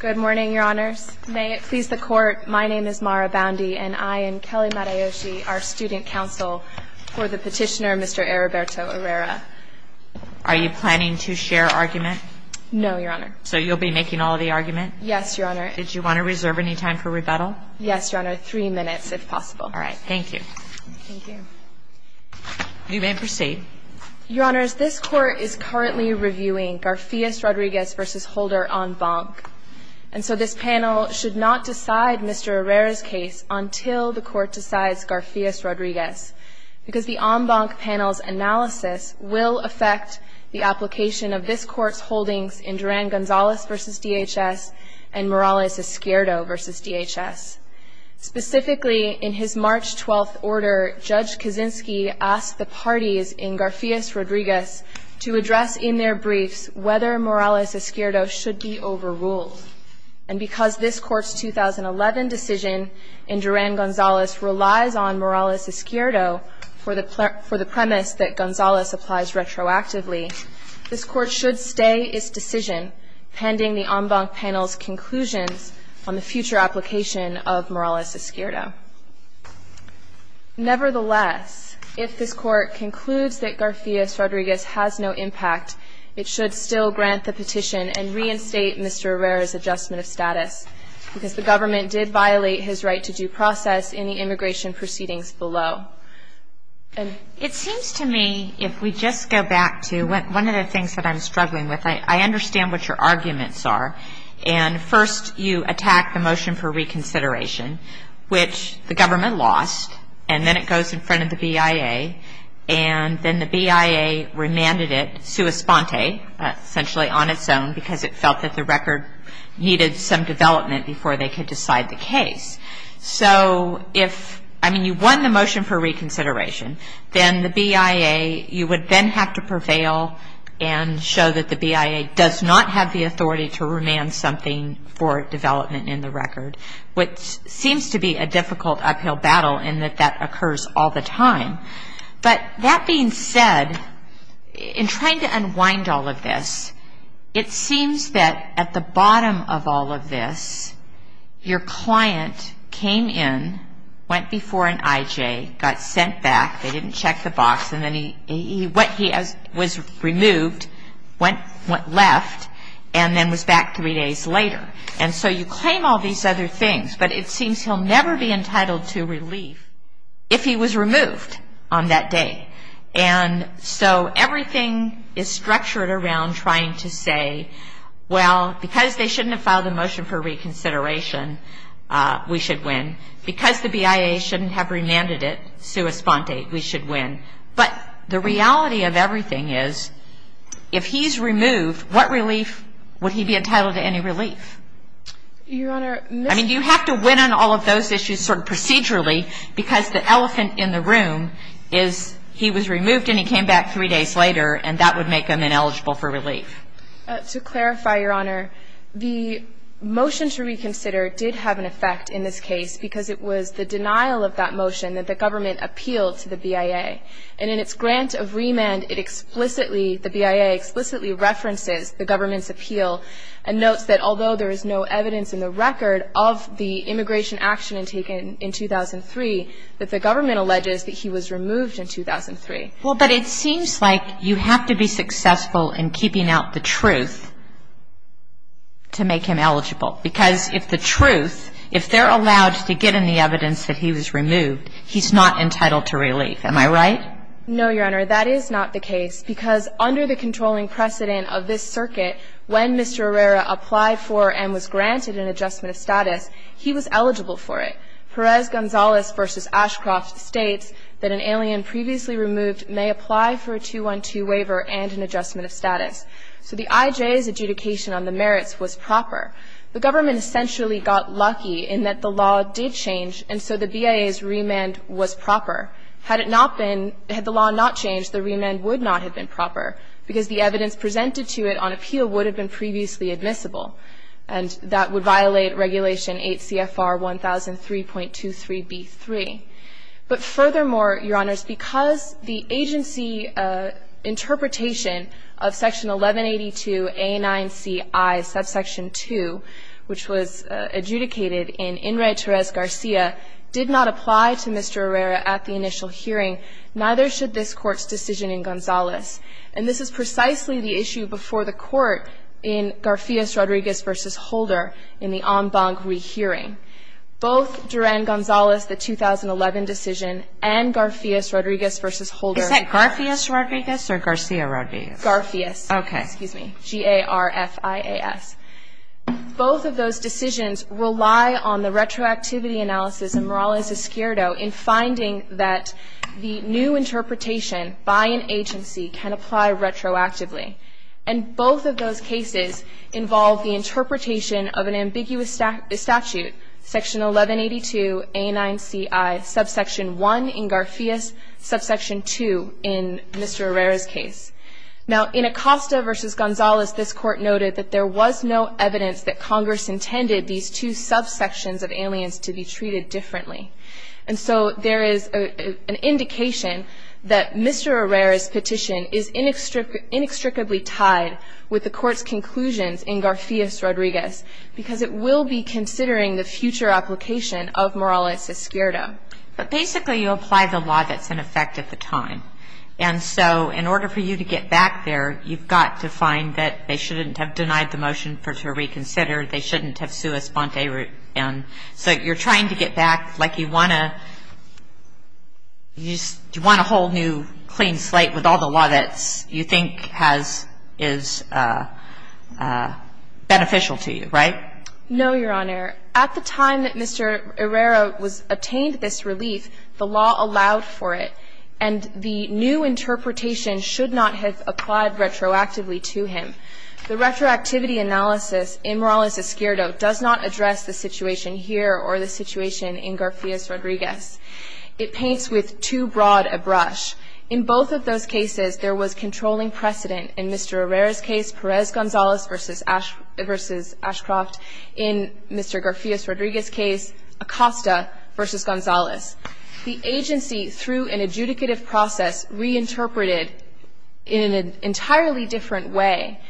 Good morning, Your Honors. May it please the Court, my name is Mara Boundy and I am Kelly Matayoshi, our student counsel for the petitioner, Mr. Eriberto Errera. Are you planning to share argument? No, Your Honor. So you'll be making all of the argument? Yes, Your Honor. Did you want to reserve any time for rebuttal? Yes, Your Honor. Three minutes, if possible. All right. Thank you. Thank you. You may proceed. Your Honors, this Court is currently reviewing Garfias-Rodriguez v. Holder en banc. And so this panel should not decide Mr. Errera's case until the Court decides Garfias-Rodriguez because the en banc panel's analysis will affect the application of this Court's holdings in Duran-Gonzalez v. DHS and Morales-Escuerdo v. DHS. Specifically, in his March 12th order, Judge Kaczynski asked the parties in Garfias-Rodriguez to address in their briefs whether Morales-Escuerdo should be overruled. And because this Court's 2011 decision in Duran-Gonzalez relies on Morales-Escuerdo for the premise that Gonzalez applies retroactively, this Court should stay its decision pending the en banc panel's conclusions on the future application of Morales-Escuerdo. Nevertheless, if this Court concludes that Garfias-Rodriguez has no impact, it should still grant the petition and reinstate Mr. Errera's adjustment of status because the government did violate his right to due process in the immigration proceedings below. It seems to me, if we just go back to one of the things that I'm struggling with, I understand what your arguments are. And first, you attack the motion for reconsideration, which the government lost, and then it goes in front of the BIA. And then the BIA remanded it sua sponte, essentially on its own, because it felt that the record needed some development before they could decide the case. So if, I mean, you won the motion for reconsideration, then the BIA, you would then have to prevail and show that the BIA does not have the authority to remand something for development in the record, which seems to be a difficult uphill battle in that that occurs all the time. But that being said, in trying to unwind all of this, it seems that at the bottom of all of this, your client came in, went before an IJ, got sent back, they didn't check the box, and then he went, he was removed, went left, and then was back three days later. And so you claim all these other things, but it seems he'll never be entitled to relief if he was removed on that day. And so everything is structured around trying to say, well, because they shouldn't have filed the motion for reconsideration, we should win. Because the BIA shouldn't have remanded it, sua sponte, we should win. But the reality of everything is, if he's removed, what relief would he be entitled to any relief? Your Honor, Mr. ---- I mean, you have to win on all of those issues sort of procedurally, because the elephant in the room is he was removed and he came back three days later, and that would make him ineligible for relief. To clarify, Your Honor, the motion to reconsider did have an effect in this case because it was the denial of that motion that the government appealed to the BIA. And in its grant of remand, it explicitly, the BIA explicitly references the government's appeal and notes that although there is no evidence in the record of the immigration action taken in 2003, that the government alleges that he was removed in 2003. Well, but it seems like you have to be successful in keeping out the truth to make him eligible. Because if the truth, if they're allowed to get any evidence that he was removed, he's not entitled to relief. Am I right? No, Your Honor. That is not the case, because under the controlling precedent of this circuit, when Mr. Herrera applied for and was granted an adjustment of status, he was eligible for it. Perez-Gonzalez v. Ashcroft states that an alien previously removed may apply for a 212 waiver and an adjustment of status. So the IJA's adjudication on the merits was proper. The government essentially got lucky in that the law did change, and so the BIA's remand was proper. Had it not been, had the law not changed, the remand would not have been proper because the evidence presented to it on appeal would have been previously admissible, and that would violate Regulation 8 CFR 1003.23b3. But furthermore, Your Honors, because the agency interpretation of Section 1182A9Ci subsection 2, which was adjudicated in In re Terez-Garcia, did not apply to Mr. Herrera at the initial hearing, neither should this Court's decision in Gonzalez. And this is precisely the issue before the Court in Garfias-Rodriguez v. Holder in the en banc rehearing. Both Duran-Gonzalez, the 2011 decision, and Garfias-Rodriguez v. Holder. Is that Garfias-Rodriguez or Garcia-Rodriguez? Garfias. Okay. Excuse me. G-A-R-F-I-A-S. Both of those decisions rely on the retroactivity analysis in Morales-Esquerdo in finding that the new interpretation by an agency can apply retroactively. And both of those cases involve the interpretation of an ambiguous statute, Section 1182A9Ci subsection 1 in Garfias, subsection 2 in Mr. Herrera's case. Now, in Acosta v. Gonzalez, this Court noted that there was no evidence that Congress intended these two subsections of aliens to be treated differently. And so there is an indication that Mr. Herrera's petition is inextricably tied with the Court's conclusions in Garfias-Rodriguez, because it will be considering the future application of Morales-Esquerdo. But basically, you apply the law that's in effect at the time. And so in order for you to get back there, you've got to find that they shouldn't have denied the motion for it to reconsider, they shouldn't have sui sponte. So you're trying to get back, like you want a whole new clean slate with all the law that you think is beneficial to you, right? No, Your Honor. At the time that Mr. Herrera obtained this relief, the law allowed for it. And the new interpretation should not have applied retroactively to him. The retroactivity analysis in Morales-Esquerdo does not address the situation here or the situation in Garfias-Rodriguez. It paints with too broad a brush. In both of those cases, there was controlling precedent. In Mr. Herrera's case, Perez-Gonzalez v. Ashcroft. In Mr. Garfias-Rodriguez's case, Acosta v. Gonzalez. The agency, through an adjudicative process, reinterpreted in an entirely different way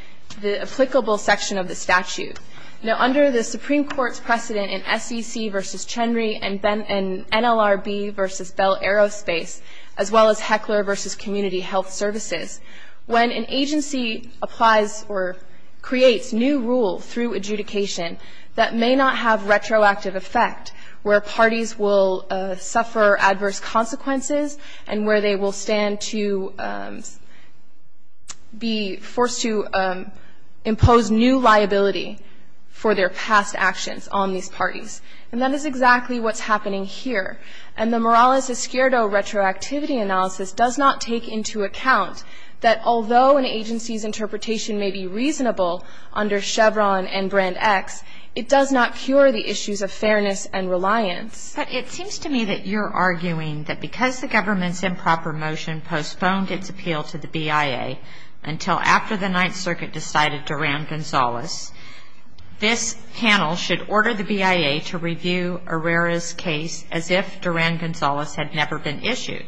the applicable section of the statute. Now, under the Supreme Court's precedent in SEC v. Chenry and NLRB v. Bell Aerospace, as well as Heckler v. Community Health Services, when an agency applies or creates new rule through adjudication, that may not have retroactive effect where parties will suffer adverse consequences and where they will stand to be forced to impose new liability for their past actions on these parties. And that is exactly what's happening here. And the Morales-Esquerdo retroactivity analysis does not take into account that although an agency's interpretation may be reasonable under Chevron and Brand X, it does not cure the issues of fairness and reliance. But it seems to me that you're arguing that because the government's improper motion postponed its appeal to the BIA until after the Ninth Circuit decided to round Gonzalez, this panel should order the BIA to review Herrera's case as if Duran-Gonzalez had never been issued.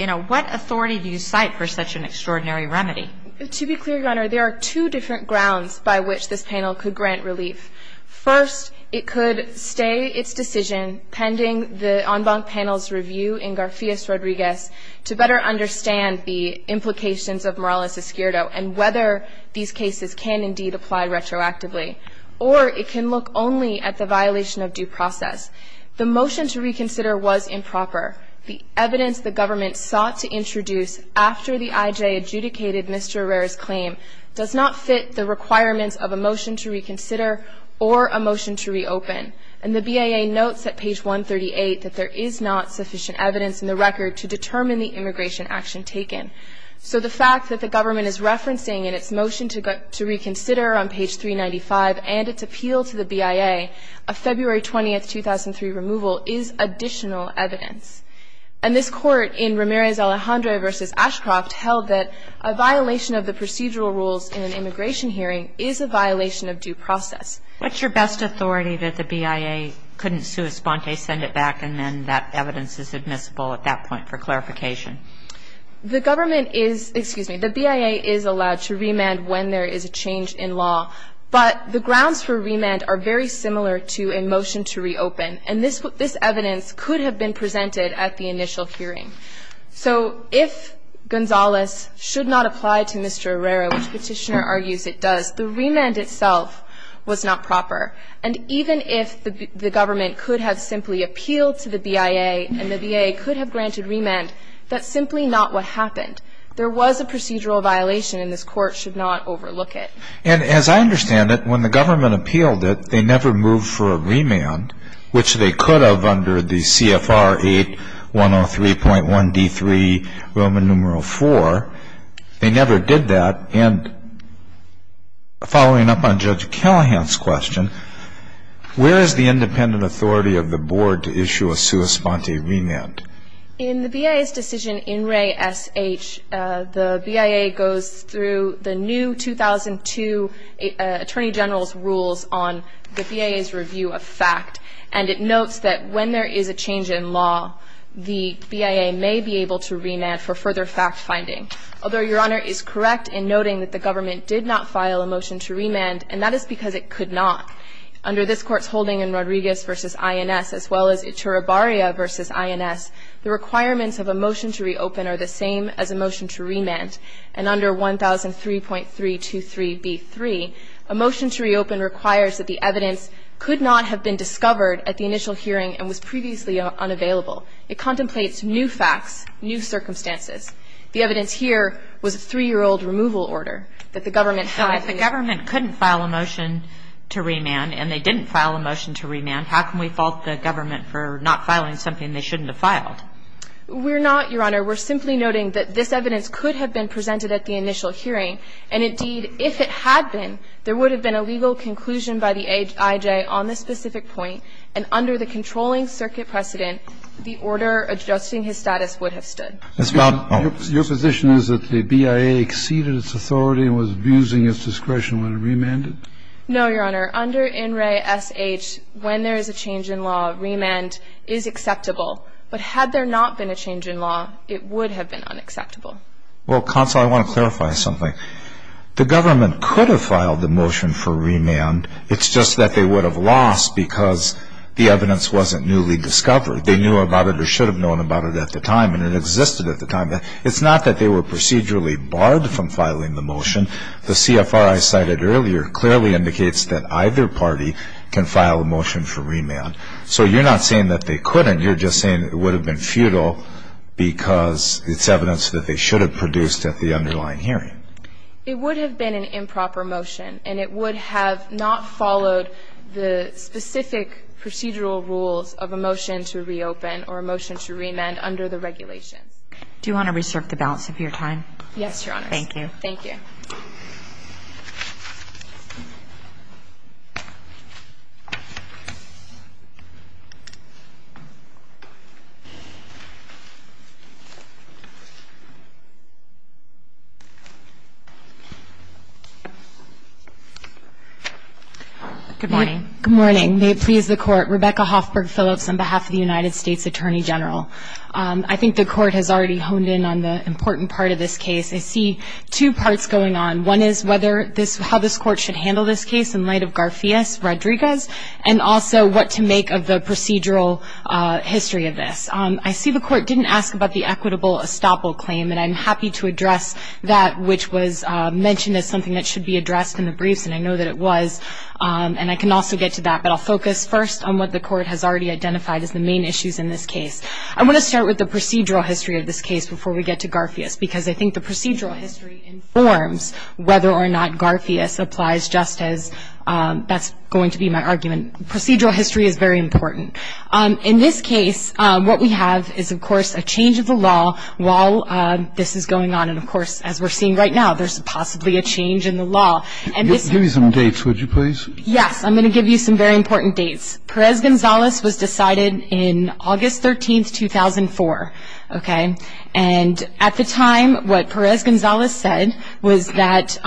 You know, what authority do you cite for such an extraordinary remedy? To be clear, Your Honor, there are two different grounds by which this panel could grant relief. First, it could stay its decision pending the en banc panel's review in Garcias-Rodriguez to better understand the implications of Morales-Esquerdo and whether these cases can indeed apply retroactively. Or it can look only at the violation of due process. The motion to reconsider was improper. The evidence the government sought to introduce after the IJ adjudicated Mr. Herrera's claim does not fit the requirements of a motion to reconsider or a motion to reopen. And the BIA notes at page 138 that there is not sufficient evidence in the record to determine the immigration action taken. So the fact that the government is referencing in its motion to reconsider on page 395 and its appeal to the BIA a February 20, 2003, removal is additional evidence. And this Court in Ramirez-Alejandro v. Ashcroft held that a violation of the procedural rules in an immigration hearing is a violation of due process. What's your best authority that the BIA couldn't sui sponte, send it back, and then that evidence is admissible at that point for clarification? The government is, excuse me, the BIA is allowed to remand when there is a change in law, but the grounds for remand are very similar to a motion to reopen. And this evidence could have been presented at the initial hearing. So if Gonzalez should not apply to Mr. Herrera, which Petitioner argues it does, the remand itself was not proper. And even if the government could have simply appealed to the BIA and the BIA could have granted remand, that's simply not what happened. There was a procedural violation, and this Court should not overlook it. And as I understand it, when the government appealed it, they never moved for a remand, which they could have under the CFR 8103.1d3, Roman numeral 4. They never did that. And following up on Judge Callahan's question, where is the independent authority of the Board to issue a sua sponte remand? In the BIA's decision in Re. S.H., the BIA goes through the new 2002 Attorney General's rules on the BIA's review of fact, and it notes that when there is a change in law, the BIA may be able to remand for further fact-finding. Although Your Honor is correct in noting that the government did not file a motion to remand, and that is because it could not. Under this Court's holding in Rodriguez v. INS, as well as Echurabarria v. INS, the requirements of a motion to reopen are the same as a motion to remand. And under 1003.323b3, a motion to reopen requires that the evidence could not have been discovered at the initial hearing and was previously unavailable. It contemplates new facts, new circumstances. The evidence here was a 3-year-old removal order that the government filed. If the government couldn't file a motion to remand and they didn't file a motion to remand, how can we fault the government for not filing something they shouldn't have filed? We're not, Your Honor. We're simply noting that this evidence could have been presented at the initial hearing, and indeed, if it had been, there would have been a legal conclusion by the IJ on this specific point, and under the controlling circuit precedent, the order adjusting his status would have stood. Your position is that the BIA exceeded its authority and was abusing its discretion when it remanded? No, Your Honor. Under NRAI-SH, when there is a change in law, remand is acceptable. But had there not been a change in law, it would have been unacceptable. Well, counsel, I want to clarify something. The government could have filed the motion for remand. It's just that they would have lost because the evidence wasn't newly discovered. They knew about it or should have known about it at the time, and it existed at the time. It's not that they were procedurally barred from filing the motion. The CFR I cited earlier clearly indicates that either party can file a motion for remand. So you're not saying that they couldn't. You're just saying it would have been futile because it's evidence that they should have produced at the underlying hearing. It would have been an improper motion, and it would have not followed the specific procedural rules of a motion to reopen or a motion to remand under the regulations. Do you want to reserve the balance of your time? Yes, Your Honor. Thank you. Thank you. Good morning. May it please the Court. Rebecca Hoffberg Phillips on behalf of the United States Attorney General. I think the Court has already honed in on the important part of this case. I see two parts going on. One is how this Court should handle this case in light of Garfias, Rodriguez, and also what to make of the procedural history of this. I see the Court didn't ask about the equitable estoppel claim, and I'm happy to address that, which was mentioned as something that should be addressed in the briefs, and I know that it was. And I can also get to that, but I'll focus first on what the Court has already identified as the main issues in this case. I want to start with the procedural history of this case before we get to Garfias, because I think the procedural history informs whether or not Garfias applies, just as that's going to be my argument. Procedural history is very important. In this case, what we have is, of course, a change of the law while this is going on, and, of course, as we're seeing right now, there's possibly a change in the law. Give me some dates, would you please? Yes. I'm going to give you some very important dates. Perez-Gonzalez was decided in August 13, 2004, okay? And at the time, what Perez-Gonzalez said was that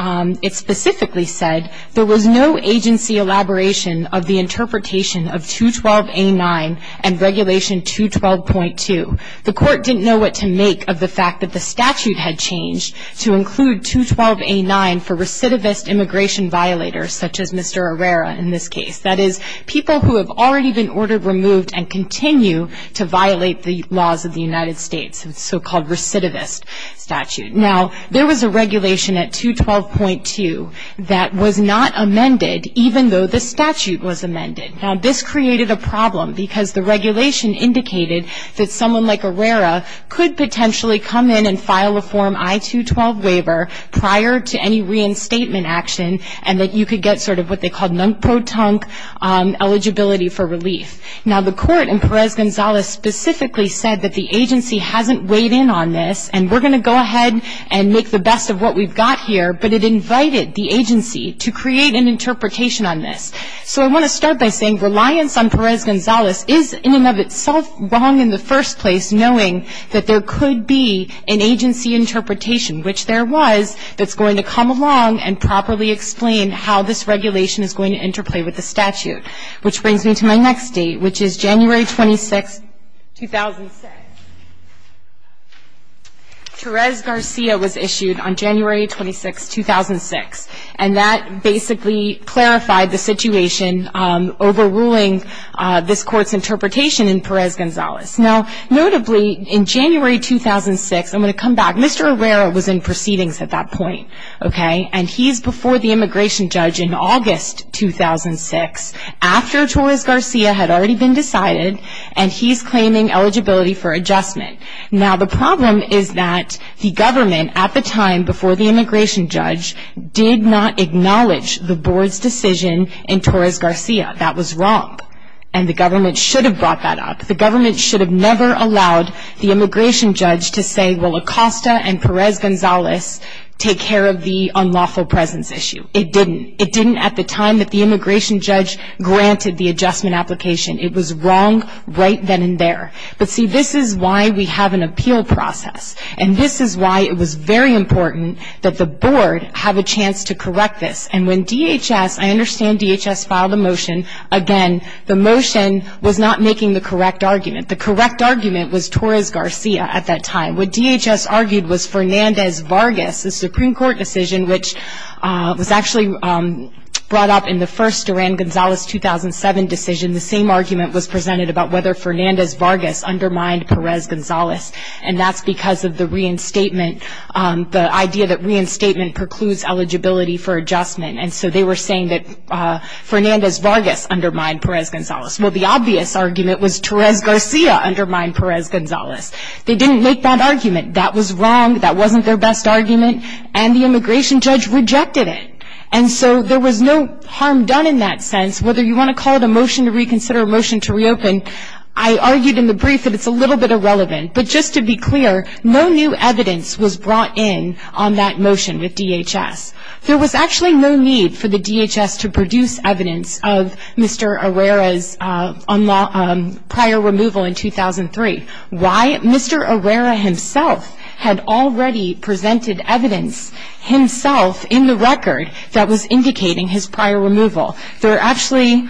it specifically said there was no agency elaboration of the interpretation of 212A9 and Regulation 212.2. The Court didn't know what to make of the fact that the statute had changed to include 212A9 for recidivist immigration violators, such as Mr. Herrera in this case, that is, people who have already been ordered removed and continue to violate the laws of the United States, so-called recidivist statute. Now, there was a regulation at 212.2 that was not amended, even though the statute was amended. Now, this created a problem because the regulation indicated that someone like Herrera could potentially come in and file a Form I-212 waiver prior to any reinstatement action and that you could get sort of what they called nunk-pro-tunk eligibility for relief. Now, the Court and Perez-Gonzalez specifically said that the agency hasn't weighed in on this and we're going to go ahead and make the best of what we've got here, but it invited the agency to create an interpretation on this. So I want to start by saying reliance on Perez-Gonzalez is in and of itself wrong in the first place, knowing that there could be an agency interpretation, which there was, that's going to come along and properly explain how this regulation is going to interplay with the statute. Which brings me to my next date, which is January 26, 2006. Therese Garcia was issued on January 26, 2006, and that basically clarified the situation overruling this Court's interpretation in Perez-Gonzalez. Now, notably, in January 2006, I'm going to come back. Mr. Herrera was in proceedings at that point, okay, and he's before the immigration judge in August 2006 after Torres-Garcia had already been decided and he's claiming eligibility for adjustment. Now, the problem is that the government at the time before the immigration judge did not acknowledge the Board's decision in Torres-Garcia. That was wrong and the government should have brought that up. The government should have never allowed the immigration judge to say, well, Acosta and Perez-Gonzalez take care of the unlawful presence issue. It didn't. It didn't at the time that the immigration judge granted the adjustment application. It was wrong right then and there. But, see, this is why we have an appeal process, and this is why it was very important that the Board have a chance to correct this. And when DHS, I understand DHS filed a motion, again, the motion was not making the correct argument. The correct argument was Torres-Garcia at that time. What DHS argued was Fernandez-Vargas, the Supreme Court decision, which was actually brought up in the first Duran-Gonzalez 2007 decision. The same argument was presented about whether Fernandez-Vargas undermined Perez-Gonzalez, and that's because of the reinstatement, the idea that reinstatement precludes eligibility for adjustment. And so they were saying that Fernandez-Vargas undermined Perez-Gonzalez. Well, the obvious argument was Torres-Garcia undermined Perez-Gonzalez. They didn't make that argument. That was wrong. That wasn't their best argument. And the immigration judge rejected it. And so there was no harm done in that sense, whether you want to call it a motion to reconsider, a motion to reopen. I argued in the brief that it's a little bit irrelevant. But just to be clear, no new evidence was brought in on that motion with DHS. There was actually no need for the DHS to produce evidence of Mr. Herrera's prior removal in 2003. Why? Mr. Herrera himself had already presented evidence himself in the record that was indicating his prior removal. There are actually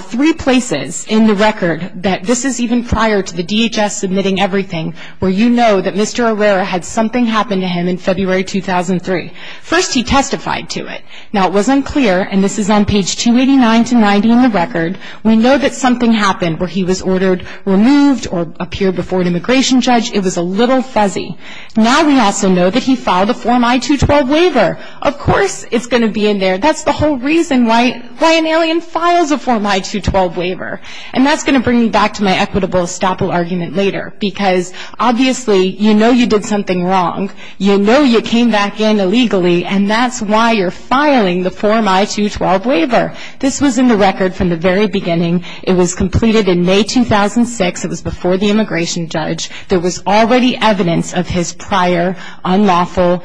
three places in the record that this is even prior to the DHS submitting everything where you know that Mr. Herrera had something happen to him in February 2003. First, he testified to it. Now, it wasn't clear, and this is on page 289 to 90 in the record. We know that something happened where he was ordered removed or appeared before an immigration judge. It was a little fuzzy. Now we also know that he filed a Form I-212 waiver. Of course it's going to be in there. That's the whole reason why an alien files a Form I-212 waiver. And that's going to bring me back to my equitable estoppel argument later, because obviously you know you did something wrong. You know you came back in illegally, and that's why you're filing the Form I-212 waiver. This was in the record from the very beginning. It was completed in May 2006. It was before the immigration judge. There was already evidence of his prior unlawful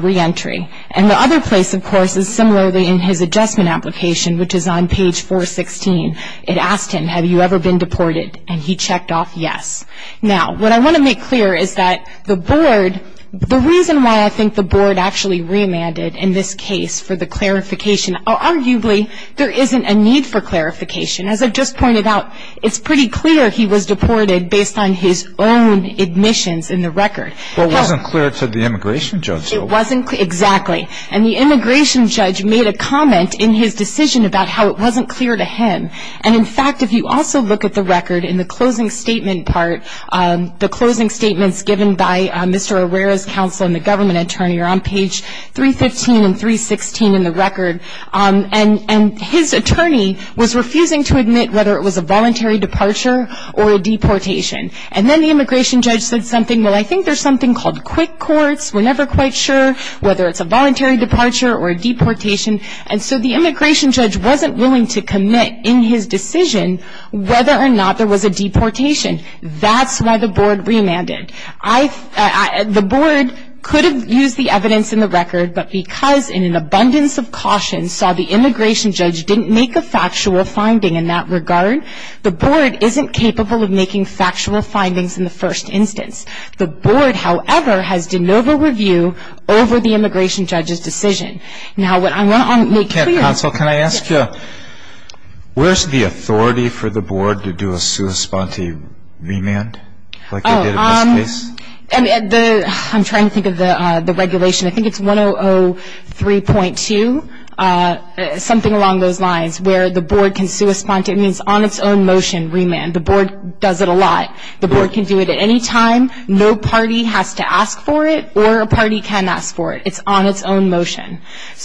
reentry. And the other place, of course, is similarly in his adjustment application, which is on page 416. It asked him, have you ever been deported? And he checked off yes. Now, what I want to make clear is that the board, the reason why I think the board actually remanded in this case for the clarification, arguably there isn't a need for clarification. As I just pointed out, it's pretty clear he was deported based on his own admissions in the record. But it wasn't clear to the immigration judge. It wasn't clear, exactly. And the immigration judge made a comment in his decision about how it wasn't clear to him. And, in fact, if you also look at the record in the closing statement part, the closing statements given by Mr. Herrera's counsel and the government attorney are on page 315 and 316 in the record. And his attorney was refusing to admit whether it was a voluntary departure or a deportation. And then the immigration judge said something, well, I think there's something called quick courts. We're never quite sure whether it's a voluntary departure or a deportation. And so the immigration judge wasn't willing to commit in his decision whether or not there was a deportation. That's why the board remanded. The board could have used the evidence in the record, but because in an abundance of caution saw the immigration judge didn't make a factual finding in that regard, the board isn't capable of making factual findings in the first instance. The board, however, has de novo review over the immigration judge's decision. Now, what I want to make clear. Counsel, can I ask you, where's the authority for the board to do a sua sponte remand like they did in this case? I'm trying to think of the regulation. I think it's 1003.2, something along those lines, where the board can sua sponte. It means on its own motion remand. The board does it a lot. The board can do it at any time. No party has to ask for it or a party can ask for it. It's on its own motion.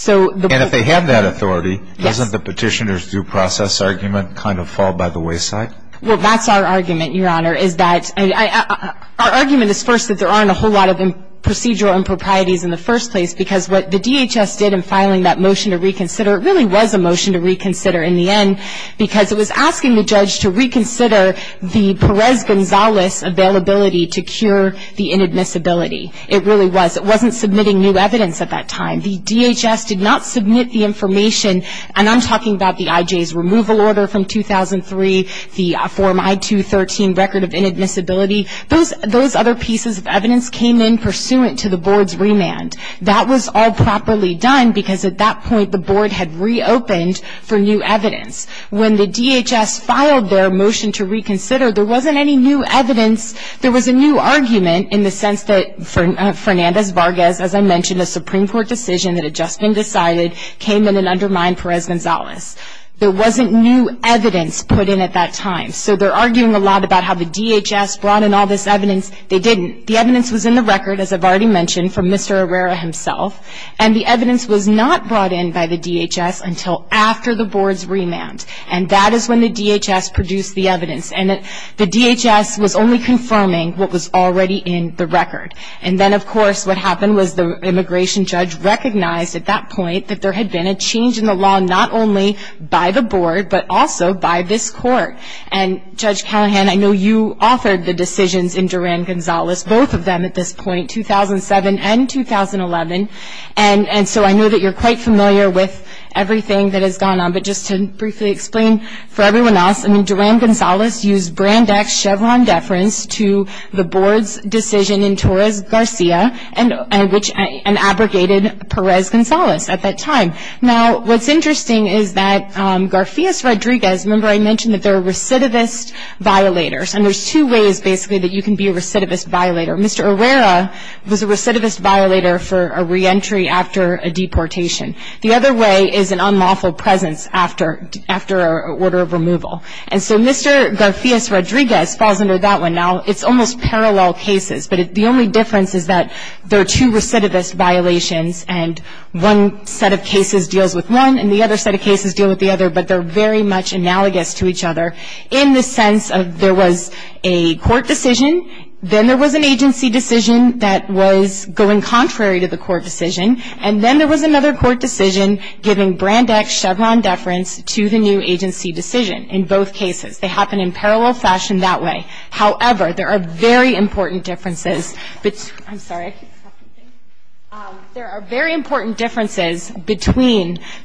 And if they have that authority, doesn't the petitioner's due process argument kind of fall by the wayside? Well, that's our argument, Your Honor. Our argument is first that there aren't a whole lot of procedural improprieties in the first place because what the DHS did in filing that motion to reconsider, it really was a motion to reconsider in the end because it was asking the judge to reconsider the Perez-Gonzalez availability to cure the inadmissibility. It really was. It wasn't submitting new evidence at that time. The DHS did not submit the information, and I'm talking about the IJ's removal order from 2003, the Form I-213, Record of Inadmissibility. Those other pieces of evidence came in pursuant to the board's remand. That was all properly done because at that point the board had reopened for new evidence. When the DHS filed their motion to reconsider, there wasn't any new evidence. There was a new argument in the sense that Fernandez-Vargas, as I mentioned, a Supreme Court decision that had just been decided, came in and undermined Perez-Gonzalez. There wasn't new evidence put in at that time. So they're arguing a lot about how the DHS brought in all this evidence. They didn't. The evidence was in the record, as I've already mentioned, from Mr. Herrera himself, and the evidence was not brought in by the DHS until after the board's remand, and that is when the DHS produced the evidence. And the DHS was only confirming what was already in the record. And then, of course, what happened was the immigration judge recognized at that point that there had been a change in the law not only by the board but also by this court. And, Judge Callahan, I know you authored the decisions in Duran-Gonzalez, both of them at this point, 2007 and 2011, and so I know that you're quite familiar with everything that has gone on. But just to briefly explain for everyone else, Duran-Gonzalez used Brand X Chevron deference to the board's decision in Torres-Garcia and abrogated Perez-Gonzalez at that time. Now, what's interesting is that Garfias-Rodriguez, remember I mentioned that they're recidivist violators, and there's two ways, basically, that you can be a recidivist violator. Mr. Herrera was a recidivist violator for a reentry after a deportation. The other way is an unlawful presence after an order of removal. And so Mr. Garfias-Rodriguez falls under that one. Now, it's almost parallel cases, but the only difference is that there are two recidivist violations and one set of cases deals with one and the other set of cases deal with the other, but they're very much analogous to each other in the sense of there was a court decision, then there was an agency decision that was going contrary to the court decision, and then there was another court decision giving brand X Chevron deference to the new agency decision in both cases. They happen in parallel fashion that way. However, there are very important differences between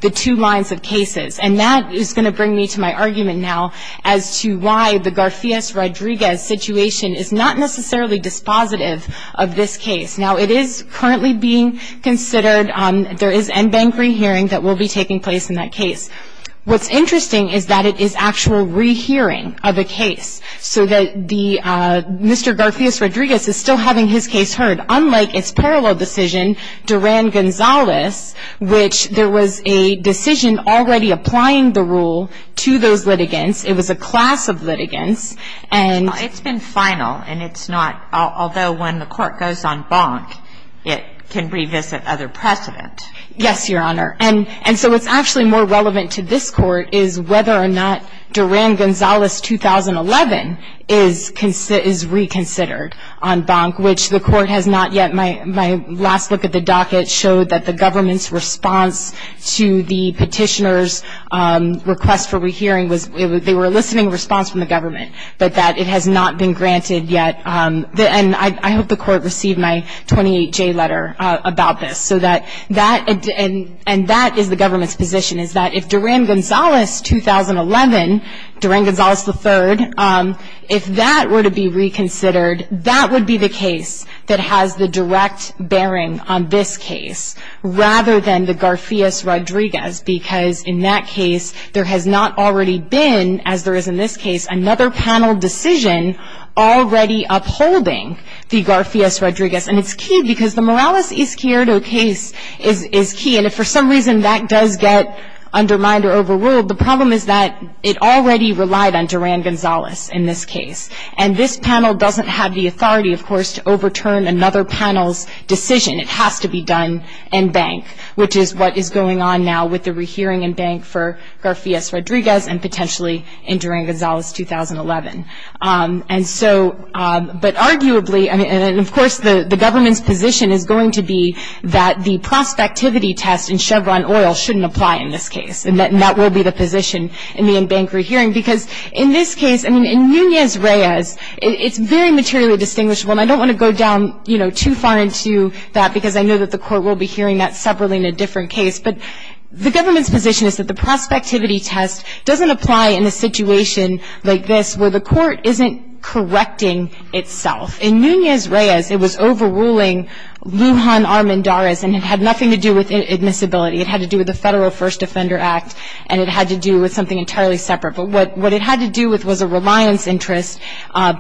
the two lines of cases, and that is going to bring me to my argument now as to why the Garfias-Rodriguez situation is not necessarily dispositive of this case. Now, it is currently being considered. There is en banc rehearing that will be taking place in that case. What's interesting is that it is actual rehearing of a case so that Mr. Garfias-Rodriguez is still having his case heard, unlike its parallel decision, Duran-Gonzalez, which there was a decision already applying the rule to those litigants. It was a class of litigants. It's been final, and it's not, although when the court goes en banc, it can revisit other precedent. Yes, Your Honor. And so what's actually more relevant to this Court is whether or not Duran-Gonzalez, 2011, is reconsidered en banc, which the Court has not yet. My last look at the docket showed that the government's response to the petitioner's request for rehearing was that they were eliciting a response from the government, but that it has not been granted yet. And I hope the Court received my 28-J letter about this, and that is the government's position, is that if Duran-Gonzalez, 2011, Duran-Gonzalez III, if that were to be reconsidered, that would be the case that has the direct bearing on this case, rather than the Garfias-Rodriguez, because in that case there has not already been, as there is in this case, another panel decision already upholding the Garfias-Rodriguez. And it's key, because the Morales-Izquierdo case is key. And if for some reason that does get undermined or overruled, the problem is that it already relied on Duran-Gonzalez in this case. And this panel doesn't have the authority, of course, to overturn another panel's decision. It has to be done in bank, which is what is going on now with the rehearing in bank for Garfias-Rodriguez and potentially in Duran-Gonzalez, 2011. And so, but arguably, and of course the government's position is going to be that the prospectivity test in Chevron Oil shouldn't apply in this case, and that will be the position in the in-bank rehearing, because in this case, I mean, in Nunez-Reyes, it's very materially distinguishable, and I don't want to go down, you know, too far into that, because I know that the court will be hearing that separately in a different case. But the government's position is that the prospectivity test doesn't apply in a situation like this, where the court isn't correcting itself. In Nunez-Reyes, it was overruling Lujan Armendariz, and it had nothing to do with admissibility. It had to do with the Federal First Offender Act, and it had to do with something entirely separate. But what it had to do with was a reliance interest.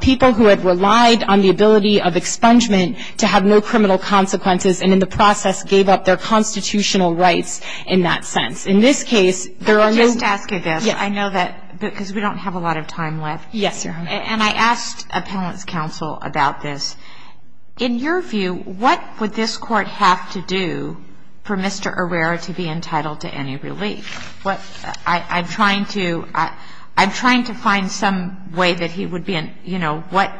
People who had relied on the ability of expungement to have no criminal consequences and, in the process, gave up their constitutional rights in that sense. In this case, there are no ‑‑ Let me just ask you this. Yes. I know that because we don't have a lot of time left. Yes, Your Honor. And I asked appellant's counsel about this. In your view, what would this court have to do for Mr. Herrera to be entitled to any relief? I'm trying to find some way that he would be ‑‑ you know, what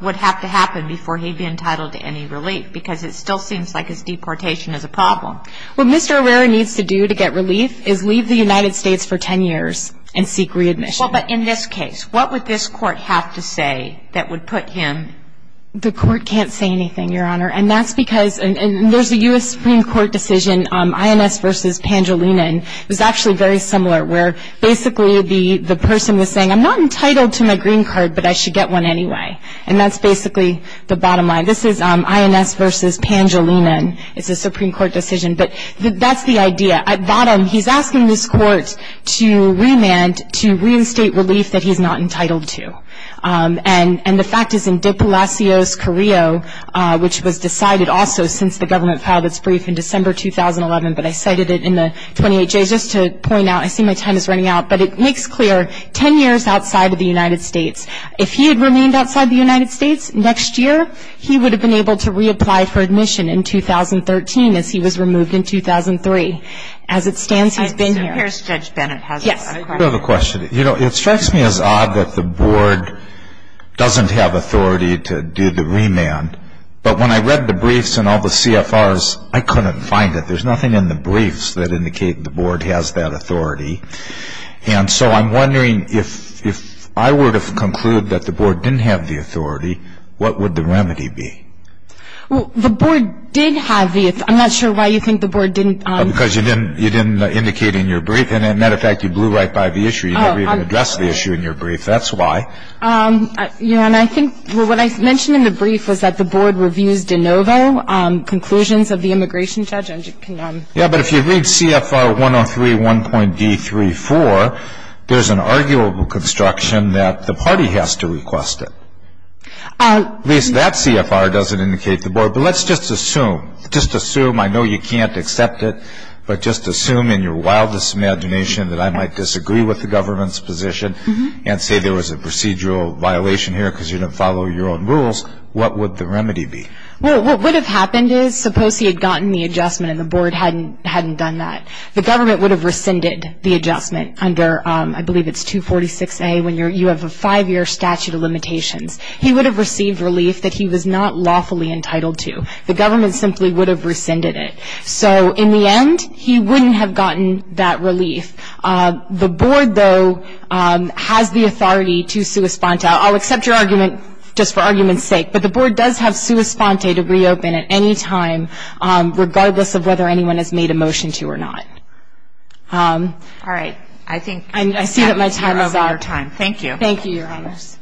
would have to happen before he would be entitled to any relief? Because it still seems like his deportation is a problem. What Mr. Herrera needs to do to get relief is leave the United States for 10 years and seek readmission. Well, but in this case, what would this court have to say that would put him ‑‑ The court can't say anything, Your Honor. And that's because ‑‑ and there's a U.S. Supreme Court decision, INS v. Pandolino, and it was actually very similar, where basically the person was saying, I'm not entitled to my green card, but I should get one anyway. And that's basically the bottom line. This is INS v. Pandolino, and it's a Supreme Court decision. But that's the idea. At bottom, he's asking this court to remand to reinstate relief that he's not entitled to. And the fact is in De Palacios Carrillo, which was decided also since the government filed its brief in December 2011, but I cited it in the 28Js just to point out, I see my time is running out, but it makes clear 10 years outside of the United States. If he had remained outside the United States next year, he would have been able to reapply for admission in 2013 as he was removed in 2003. As it stands, he's been here. Mr. Harris, Judge Bennett has a question. I do have a question. You know, it strikes me as odd that the board doesn't have authority to do the remand. But when I read the briefs and all the CFRs, I couldn't find it. There's nothing in the briefs that indicate the board has that authority. And so I'm wondering, if I were to conclude that the board didn't have the authority, what would the remedy be? Well, the board did have the authority. I'm not sure why you think the board didn't. Because you didn't indicate in your brief. And, as a matter of fact, you blew right by the issue. You never even addressed the issue in your brief. That's why. I don't know. Conclusions of the immigration judge? Yeah, but if you read CFR 103, 1.D34, there's an arguable construction that the party has to request it. At least that CFR doesn't indicate the board. But let's just assume. Just assume. I know you can't accept it. But just assume in your wildest imagination that I might disagree with the government's position and say there was a procedural violation here because you didn't follow your own rules. What would the remedy be? Well, what would have happened is, suppose he had gotten the adjustment and the board hadn't done that. The government would have rescinded the adjustment under, I believe it's 246A, when you have a five-year statute of limitations. He would have received relief that he was not lawfully entitled to. The government simply would have rescinded it. So, in the end, he wouldn't have gotten that relief. The board, though, has the authority to sui sponte. I'll accept your argument just for argument's sake. But the board does have sui sponte to reopen at any time, regardless of whether anyone has made a motion to or not. All right. I think we're over our time. Thank you. Thank you, Your Honors.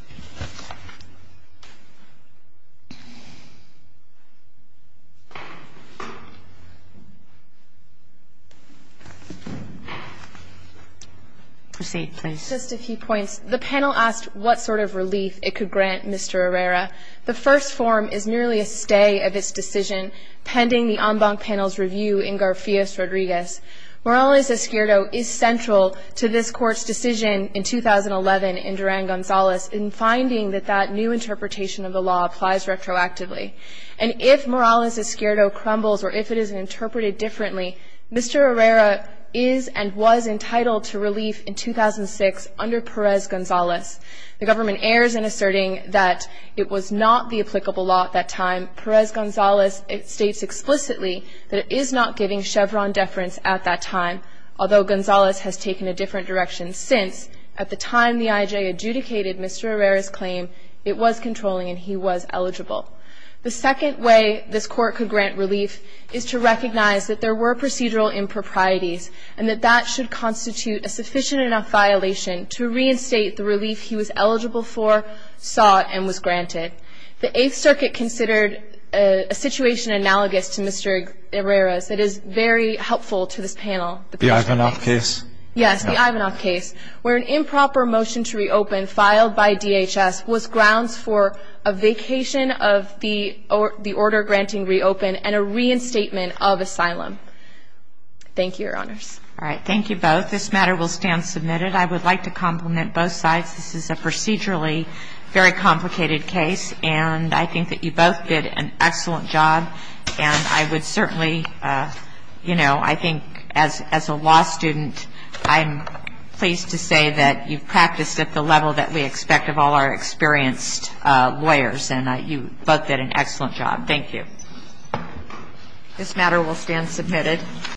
Proceed, please. Just a few points. The panel asked what sort of relief it could grant Mr. Herrera. The first form is merely a stay of its decision pending the en banc panel's review in Garfias-Rodriguez. Morales-Escuero is central to this Court's decision in 2011 in Duran-Gonzalez in finding that that new interpretation of the law applies retroactively. And if Morales-Escuero crumbles or if it is interpreted differently, Mr. Herrera is and was entitled to relief in 2006 under Perez-Gonzalez. The government errs in asserting that it was not the applicable law at that time. Perez-Gonzalez states explicitly that it is not giving Chevron deference at that time, although Gonzalez has taken a different direction since. At the time the IJ adjudicated Mr. Herrera's claim, it was controlling and he was eligible. The second way this Court could grant relief is to recognize that there were procedural improprieties and that that should constitute a sufficient enough violation to reinstate the relief he was eligible for, sought, and was granted. The Eighth Circuit considered a situation analogous to Mr. Herrera's that is very helpful to this panel. The Ivanoff case? Yes, the Ivanoff case, where an improper motion to reopen filed by DHS was grounds for a vacation of the order granting reopen and a reinstatement of asylum. Thank you, Your Honors. All right. Thank you both. This matter will stand submitted. I would like to compliment both sides. This is a procedurally very complicated case, and I think that you both did an excellent job. And I would certainly, you know, I think as a law student, I'm pleased to say that you've practiced at the level that we expect of all our experienced lawyers, and you both did an excellent job. Thank you. This matter will stand submitted.